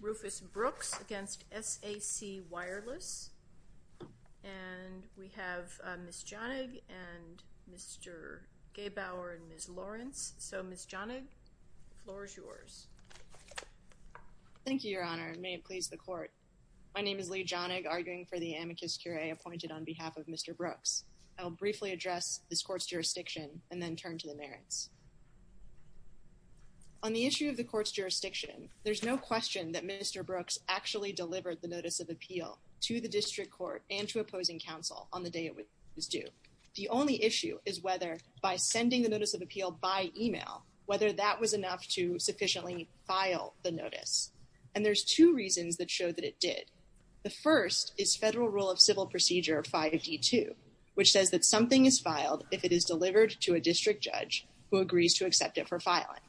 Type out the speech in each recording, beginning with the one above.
Rufus Brooks v. SAC Wireless and we have Ms. Jonig and Mr. Gebauer and Ms. Lawrence. So Ms. Jonig, the floor is yours. Thank you, Your Honor, and may it please the court. My name is Leigh Jonig, arguing for the amicus curiae appointed on behalf of Mr. Brooks. I'll briefly address this court's jurisdiction and then turn to the merits. On the issue of the court's jurisdiction, there's no question that Mr. Brooks actually delivered the notice of appeal to the district court and to opposing counsel on the day it was due. The only issue is whether by sending the notice of appeal by email, whether that was enough to sufficiently file the notice. And there's two reasons that show that it did. The first is federal rule of civil procedure 5d2, which says that something is filed if it is delivered to a district judge who agrees to accept it for filing.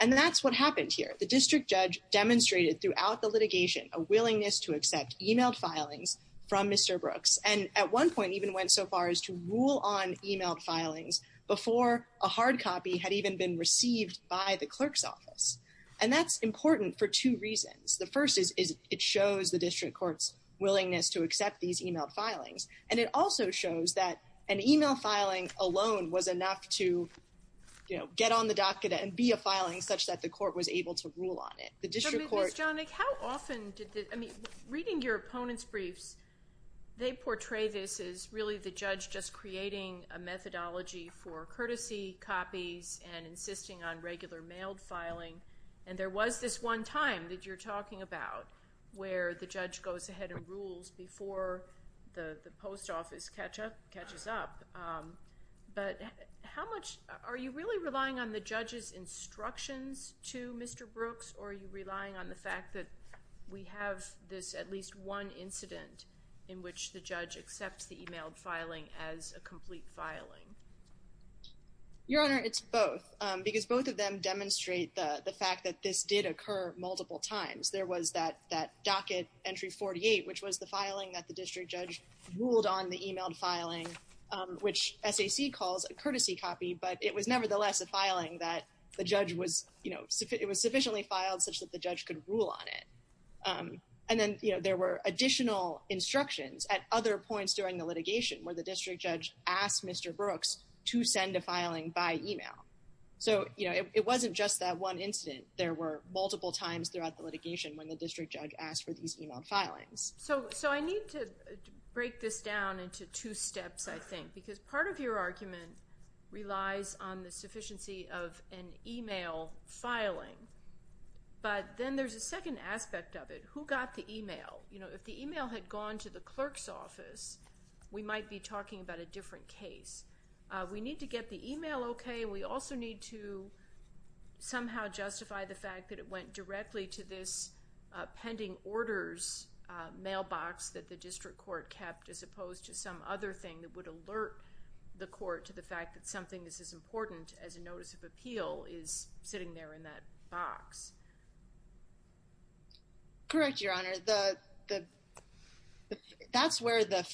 And that's what happened here. The district judge demonstrated throughout the litigation a willingness to accept emailed filings from Mr. Brooks and at one point even went so far as to rule on emailed filings before a hard copy had even been received by the clerk's office. And that's important for two reasons. The first is it shows the district court's willingness to accept these emailed filings and it also shows that an email filing alone was enough to, you know, get on the docket and be a filing such that the court was able to rule on it. The district court... Ms. Jonick, how often did this... I mean, reading your opponent's briefs, they portray this as really the judge just creating a methodology for courtesy copies and insisting on regular mailed filing and there was this one time that you're talking about where the judge goes ahead and rules before the post office catches up. But how much... are you really relying on the judge's instructions to Mr. Brooks or are you relying on the fact that we have this at least one incident in which the judge accepts the emailed filing as a complete filing? Your Honor, it's both because both of them demonstrate the fact that this did occur multiple times. There was that docket entry 48, which was the filing that the district judge ruled on the emailed filing, which SAC calls a courtesy copy, but it was nevertheless a filing that the judge was, you know, it was sufficiently filed such that the judge could rule on it. And then, you know, there were additional instructions at other points during the litigation where the district judge asked Mr. Brooks to send a filing by email. So, you know, it wasn't just that one incident. There were So I need to break this down into two steps, I think, because part of your argument relies on the sufficiency of an email filing. But then there's a second aspect of it. Who got the email? You know, if the email had gone to the clerk's office, we might be talking about a different case. We need to get the email okay. We also need to somehow justify the fact that it went directly to this pending orders mailbox that the district court kept, as opposed to some other thing that would alert the court to the fact that something that's as important as a notice of appeal is sitting there in that box. Correct, Your Honor. That's where the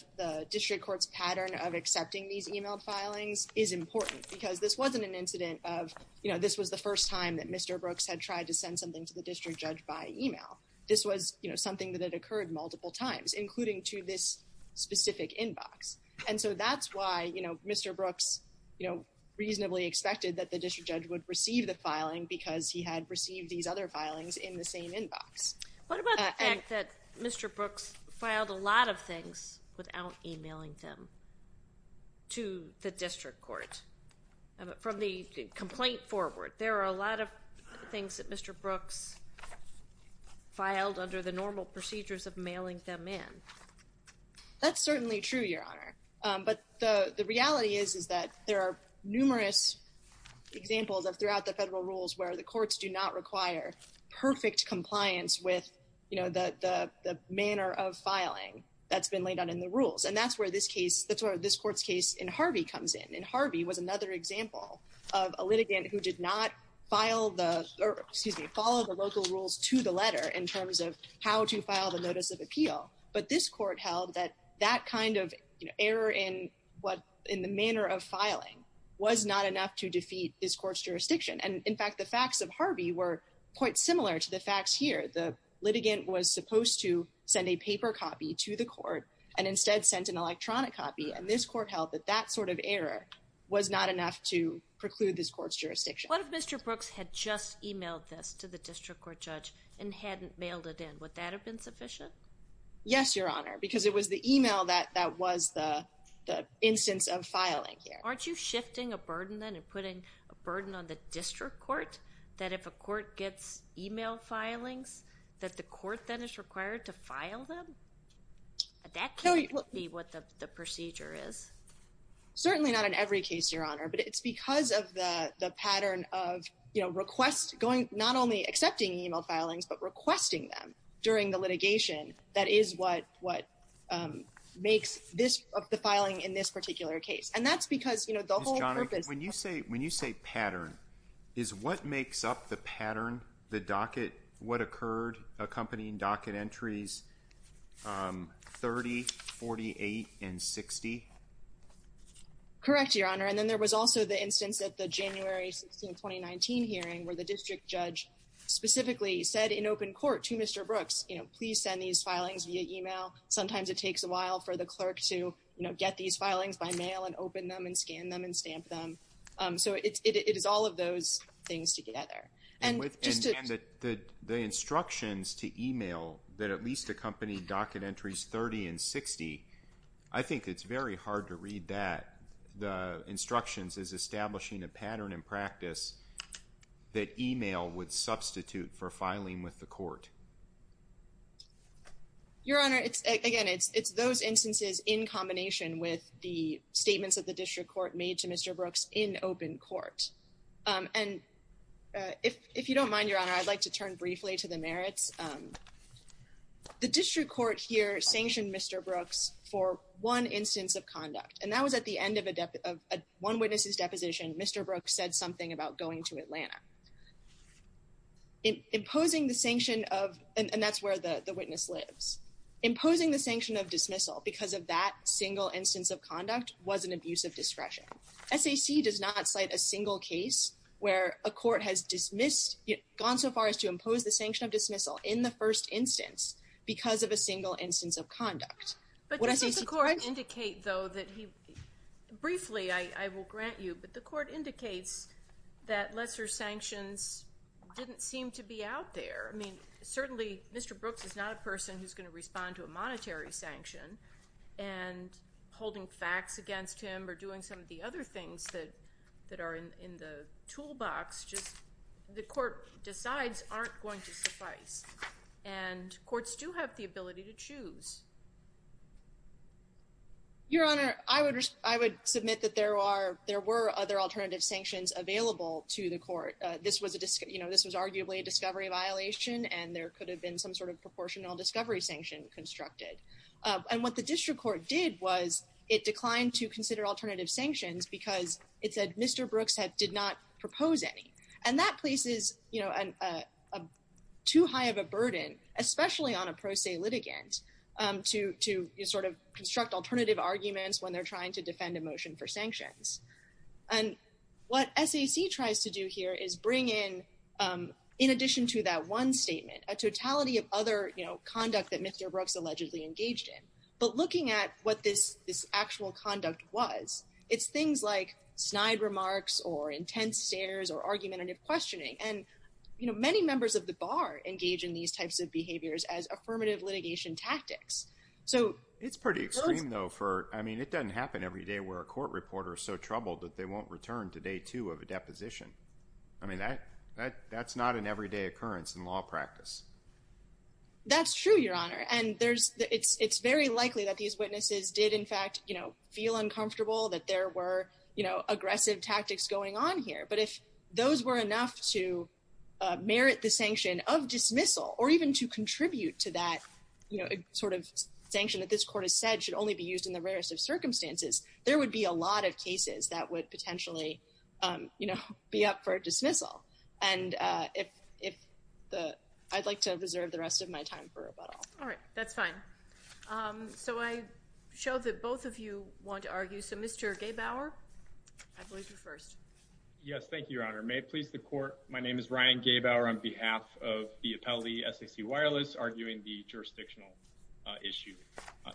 district court's pattern of accepting these email filings is important because this wasn't an incident of, you know, this was the first time that Mr. Brooks had tried to send something to the district court. This was, you know, something that occurred multiple times, including to this specific inbox. And so that's why, you know, Mr. Brooks, you know, reasonably expected that the district judge would receive the filing because he had received these other filings in the same inbox. What about the fact that Mr. Brooks filed a lot of things without emailing them to the district court? From the complaint forward, there are a lot of things that Mr. Brooks filed under the normal procedures of mailing them in. That's certainly true, Your Honor, but the reality is is that there are numerous examples of throughout the federal rules where the courts do not require perfect compliance with, you know, the manner of filing that's been laid out in the rules. And that's where this case, that's where this court's case in Harvey comes in. And Harvey was another example of a litigant who did not file the, excuse me, follow the local rules to the letter in terms of how to file the notice of appeal. But this court held that that kind of error in what in the manner of filing was not enough to defeat this court's jurisdiction. And in fact, the facts of Harvey were quite similar to the facts here. The litigant was supposed to send a paper copy to the court and instead sent an electronic copy. And this court held that that sort of error was not enough to preclude this court's jurisdiction. What if Mr. Brooks had just emailed this to the district court judge and hadn't mailed it in? Would that have been sufficient? Yes, Your Honor, because it was the email that was the instance of filing here. Aren't you shifting a burden then and putting a burden on the district court that if a court gets email filings that the court then is required to file them? That can't be what the procedure is? Certainly not in every case, Your Honor, but it's because of the pattern of, you know, request going, not only accepting email filings, but requesting them during the litigation. That is what what makes this of the filing in this particular case. And that's because, you know, the whole purpose when you say when you say pattern is what makes up the pattern, the docket, what Correct, Your Honor. And then there was also the instance at the January 16, 2019 hearing where the district judge specifically said in open court to Mr. Brooks, you know, please send these filings via email. Sometimes it takes a while for the clerk to, you know, get these filings by mail and open them and scan them and stamp them. So it is all of those things together. And the instructions to email that at least accompanied docket entries 30 and 60, I think it's very hard to read that. The instructions is establishing a pattern in practice that email would substitute for filing with the court. Your Honor, it's again, it's those instances in combination with the statements that the district court made to Mr. Brooks in open court. And if you don't mind, Your Honor, I'll just add briefly to the merits. The district court here sanctioned Mr. Brooks for one instance of conduct, and that was at the end of a one witness's deposition. Mr. Brooks said something about going to Atlanta. Imposing the sanction of, and that's where the witness lives, imposing the sanction of dismissal because of that single instance of conduct was an abuse of discretion. SAC does not cite a single case where a court has dismissed, gone so is the sanction of dismissal in the first instance because of a single instance of conduct. But does the court indicate though that he, briefly I will grant you, but the court indicates that lesser sanctions didn't seem to be out there. I mean certainly Mr. Brooks is not a person who's going to respond to a monetary sanction and holding facts against him or doing some of the other things that that are in the toolbox, just the court decides aren't going to suffice. And courts do have the ability to choose. Your Honor, I would, I would submit that there are, there were other alternative sanctions available to the court. This was a, you know, this was arguably a discovery violation and there could have been some sort of proportional discovery sanction constructed. And what the district court did was it declined to consider alternative sanctions because it said Mr. Brooks had, did not propose any. And that places, you know, too high of a burden especially on a pro se litigant to, to sort of construct alternative arguments when they're trying to defend a motion for sanctions. And what SAC tries to do here is bring in, in addition to that one statement, a totality of other, you know, conduct that Mr. Brooks allegedly engaged in. But looking at what this, this actual conduct was, it's things like snide remarks or intense stares or argumentative questioning. And you know, many members of the bar engage in these types of behaviors as affirmative litigation tactics. So... It's pretty extreme though for, I mean, it doesn't happen every day where a court reporter is so troubled that they won't return to day two of a deposition. I mean that, that, that's not an everyday occurrence in law practice. That's true, Your Honor. And there's, it's, it's very likely that these witnesses did in fact, you know, feel uncomfortable that there were, you know, aggressive tactics going on here. But if those were enough to merit the sanction of dismissal or even to contribute to that, you know, sort of sanction that this court has said should only be used in the rarest of circumstances, there would be a lot of cases that would potentially, you know, be up for dismissal. And if, if the, I'd like to reserve the rest of my time for rebuttal. All right, that's fine. So I show that both of you want to argue. So Mr. Gaybauer, I believe you're first. Yes, thank you, Your Honor. May it please the court, my name is Ryan Gaybauer on behalf of the appellee, SAC Wireless, arguing the jurisdictional issue.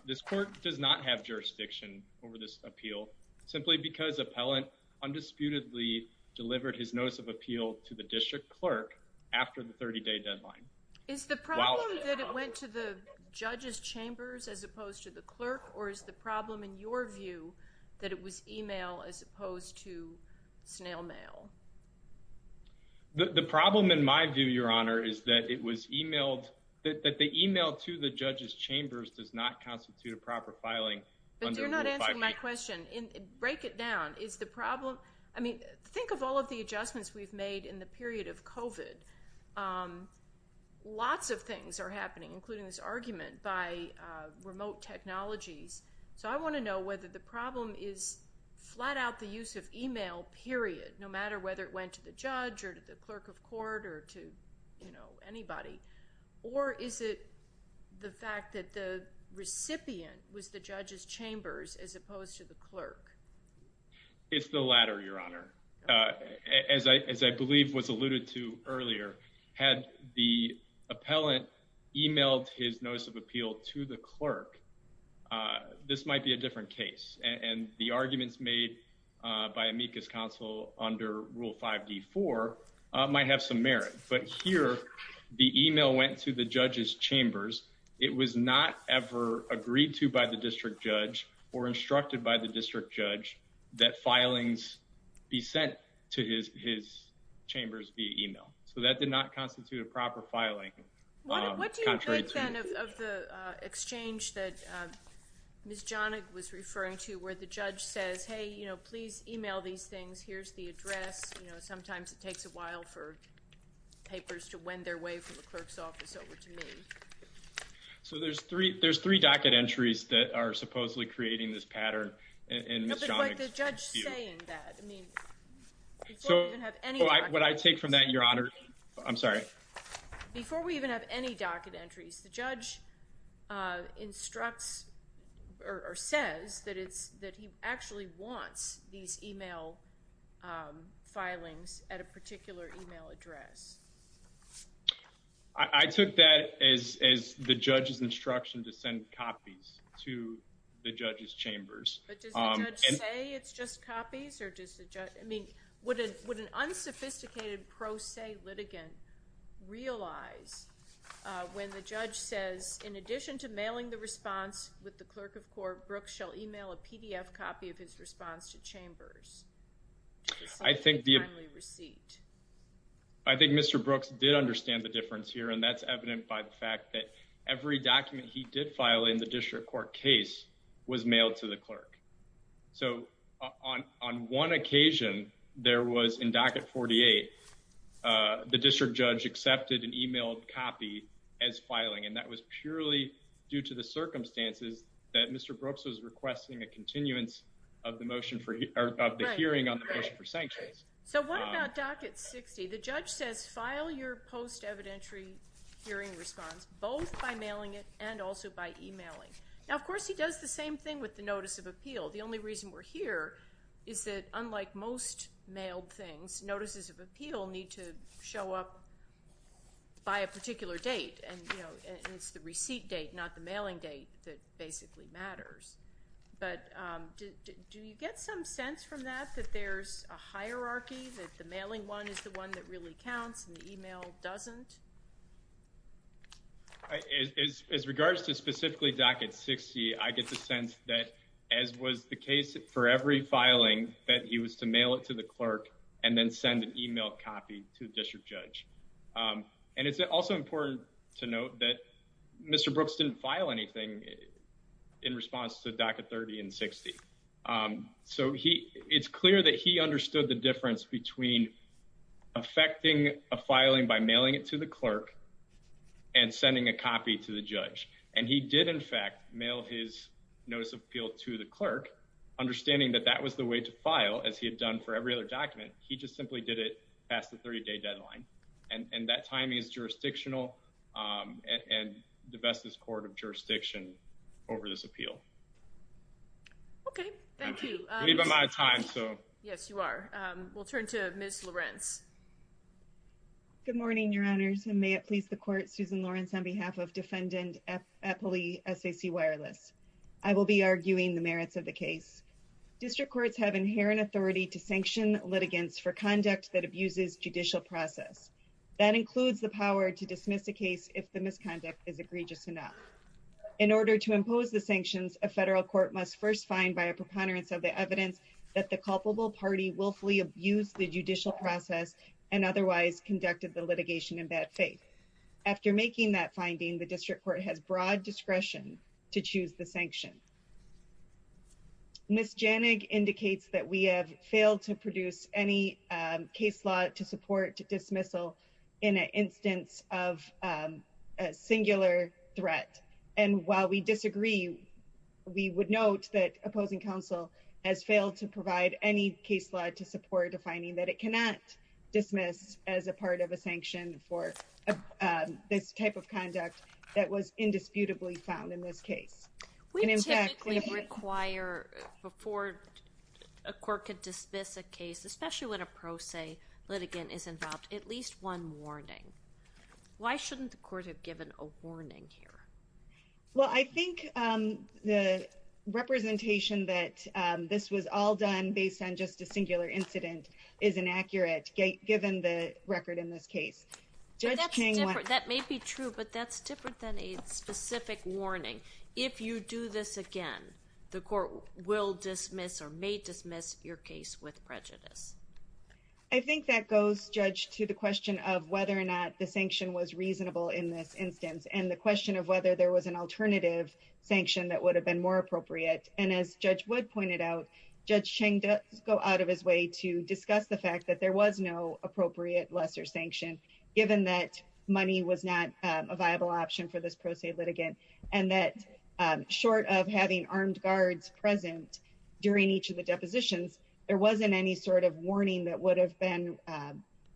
This court does not have jurisdiction over this appeal simply because appellant undisputedly delivered his notice of appeal to the district clerk after the 30-day deadline. Is the problem that it went to the judges chambers as opposed to the clerk or is the problem in your view that it was email as opposed to snail mail? The problem in my view, Your Honor, is that it was emailed, that the email to the judges chambers does not constitute a I mean, think of all of the adjustments we've made in the period of COVID. Lots of things are happening, including this argument by remote technologies. So I want to know whether the problem is flat-out the use of email, period, no matter whether it went to the judge or to the clerk of court or to, you know, anybody. Or is it the fact that the recipient was the judges chambers as It's the latter, Your Honor. As I believe was alluded to earlier, had the appellant emailed his notice of appeal to the clerk, this might be a different case. And the arguments made by amicus counsel under Rule 5d4 might have some merit. But here, the email went to the judges chambers. It was not ever agreed to by the district judge or instructed by the district judge that filings be sent to his chambers via email. So that did not constitute a proper filing. What do you think of the exchange that Ms. Jahnig was referring to where the judge says, hey, you know, please email these things. Here's the address. You know, sometimes it takes a while for papers to wind their way from the clerk's office So there's three there's three docket entries that are supposedly creating this pattern. Before we even have any docket entries, the judge instructs or says that it's that he actually wants these email filings at a particular email address. I took that as the judge's instruction to send copies to the judge's chambers. But does the judge say it's just copies? I mean, would an unsophisticated pro se litigant realize when the judge says, in addition to mailing the response with the clerk of court, Brooks shall email a PDF copy of his response to chambers? I think the receipt. I think Mr. Brooks did understand the difference here. And that's evident by the fact that every document he did file in the district court case was mailed to the clerk. So on on one occasion, there was in docket 48, the district judge accepted an emailed copy as filing. And that was purely due to the circumstances that Mr. Brooks was requesting a hearing on the motion for sanctions. So what about docket 60? The judge says, file your post evidentiary hearing response both by mailing it and also by emailing. Now, of course, he does the same thing with the notice of appeal. The only reason we're here is that, unlike most mailed things, notices of appeal need to show up by a particular date. And, you know, it's the receipt date, not the there's a hierarchy that the mailing one is the one that really counts and the email doesn't. As regards to specifically docket 60, I get the sense that, as was the case for every filing, that he was to mail it to the clerk and then send an email copy to the district judge. And it's also important to note that Mr. Brooks didn't file anything in response to docket 30 and 60. So he, it's clear that he understood the difference between affecting a filing by mailing it to the clerk and sending a copy to the judge. And he did, in fact, mail his notice of appeal to the clerk, understanding that that was the way to file, as he had done for every other document. He just simply did it past the 30-day deadline. And that timing is jurisdictional and the bestest court of Yes, you are. We'll turn to Ms. Lorenz. Good morning, Your Honors, and may it please the court, Susan Lorenz, on behalf of Defendant Eppley, SAC Wireless. I will be arguing the merits of the case. District courts have inherent authority to sanction litigants for conduct that abuses judicial process. That includes the power to dismiss a case if the misconduct is egregious enough. In order to impose the sanctions, a federal court must first find by a preponderance of the evidence that the culpable party willfully abused the judicial process and otherwise conducted the litigation in bad faith. After making that finding, the district court has broad discretion to choose the sanction. Ms. Janig indicates that we have failed to produce any case law to support dismissal in an instance of a singular threat. And while we disagree, we would note that opposing counsel has failed to provide any case law to support defining that it cannot dismiss as a part of a sanction for this type of conduct that was indisputably found in this case. We typically require before a court could dismiss a case, especially when a pro se litigant is involved, at least one warning. Why shouldn't the court have given a warning here? Well, I think the representation that this was all done based on just a singular incident is inaccurate, given the record in this case. That may be true, but that's different than a specific warning. If you do this again, the court will dismiss or may dismiss your case with prejudice. I think that goes, Judge, to the question of whether or not the sanction was reasonable in this instance and the question of whether there was an alternative sanction that would have been more appropriate. And as Judge Wood pointed out, Judge Chang does go out of his way to discuss the fact that there was no appropriate lesser sanction, given that money was not a viable option for this pro se litigant and that short of having armed guards present during each of the depositions, there wasn't any sort of warning that would have been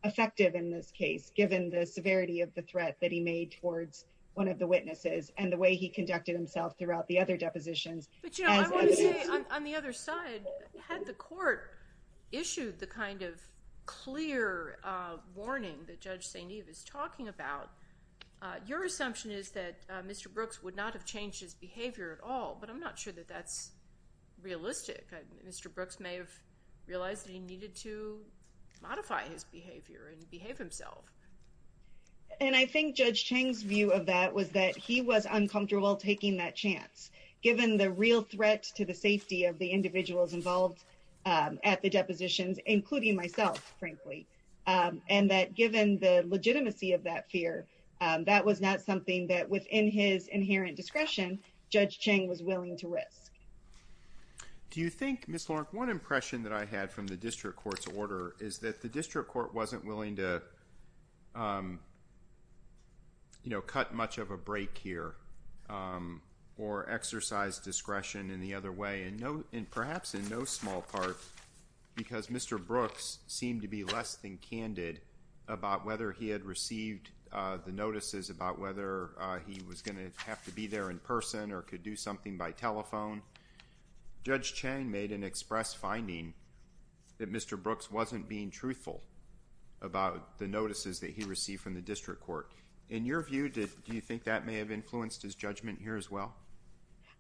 effective in this case, given the severity of the threat that he made towards one of the witnesses and the way he conducted himself throughout the other depositions. But you know, I want to say on the other side, had the court issued the kind of clear warning that Judge St. Eve is talking about, your assumption is that Mr. Brooks would not have changed his behavior at all. But I'm not sure that that's realistic. Mr. Brooks may have realized that he needed to modify his behavior in order to protect himself. And I think Judge Chang's view of that was that he was uncomfortable taking that chance, given the real threat to the safety of the individuals involved at the depositions, including myself, frankly, and that given the legitimacy of that fear, that was not something that within his inherent discretion, Judge Chang was willing to risk. Do you know, cut much of a break here, or exercise discretion in the other way? And perhaps in no small part, because Mr. Brooks seemed to be less than candid about whether he had received the notices about whether he was going to have to be there in person or could do something by telephone. Judge Chang made an express finding that Mr. Brooks wasn't being truthful about the notices that he received from the district court. In your view, do you think that may have influenced his judgment here as well?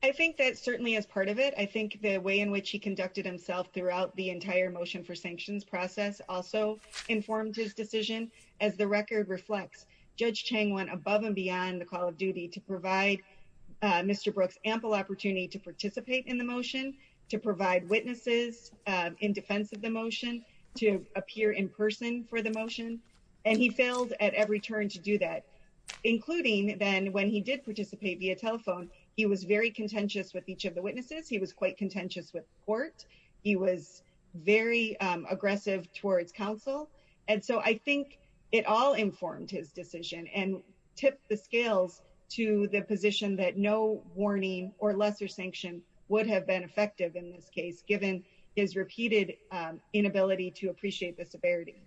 I think that certainly as part of it, I think the way in which he conducted himself throughout the entire motion for sanctions process also informed his decision. As the record reflects, Judge Chang went above and beyond the call of duty to provide Mr. opportunity to participate in the motion, to provide witnesses in defense of the motion, to appear in person for the motion. And he failed at every turn to do that, including then when he did participate via telephone. He was very contentious with each of the witnesses. He was quite contentious with court. He was very aggressive towards counsel. And so I think it all would have been effective in this case, given his repeated inability to appreciate the severity.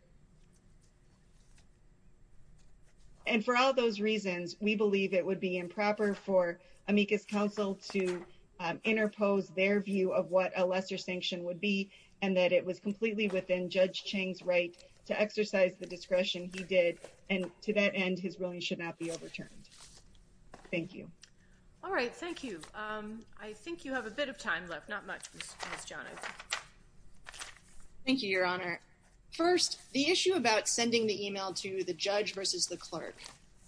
And for all those reasons, we believe it would be improper for amicus counsel to interpose their view of what a lesser sanction would be, and that it was completely within Judge Chang's right to exercise the discretion he did. And to that end, his ruling should not be overturned. Thank you. All right. Thank you. Um, I think you have a bit of time left. Not much. Thank you, Your Honor. First, the issue about sending the email to the judge versus the clerk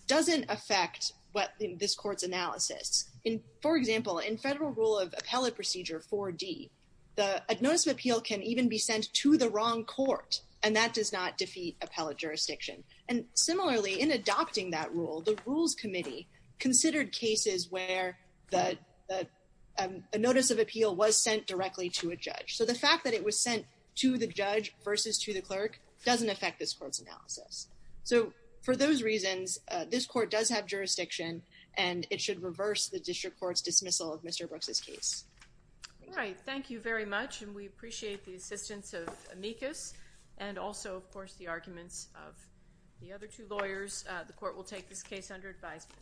doesn't affect what this court's analysis in, for example, in federal rule of appellate procedure for D, the notice of appeal can even be sent to the wrong court, and that does not defeat appellate jurisdiction. And the notice of appeal was sent directly to a judge. So the fact that it was sent to the judge versus to the clerk doesn't affect this court's analysis. So for those reasons, this court does have jurisdiction, and it should reverse the district court's dismissal of Mr Brooks's case. All right. Thank you very much. And we appreciate the assistance of amicus and also, of course, the arguments of the other two lawyers. The court will take this case under advisement.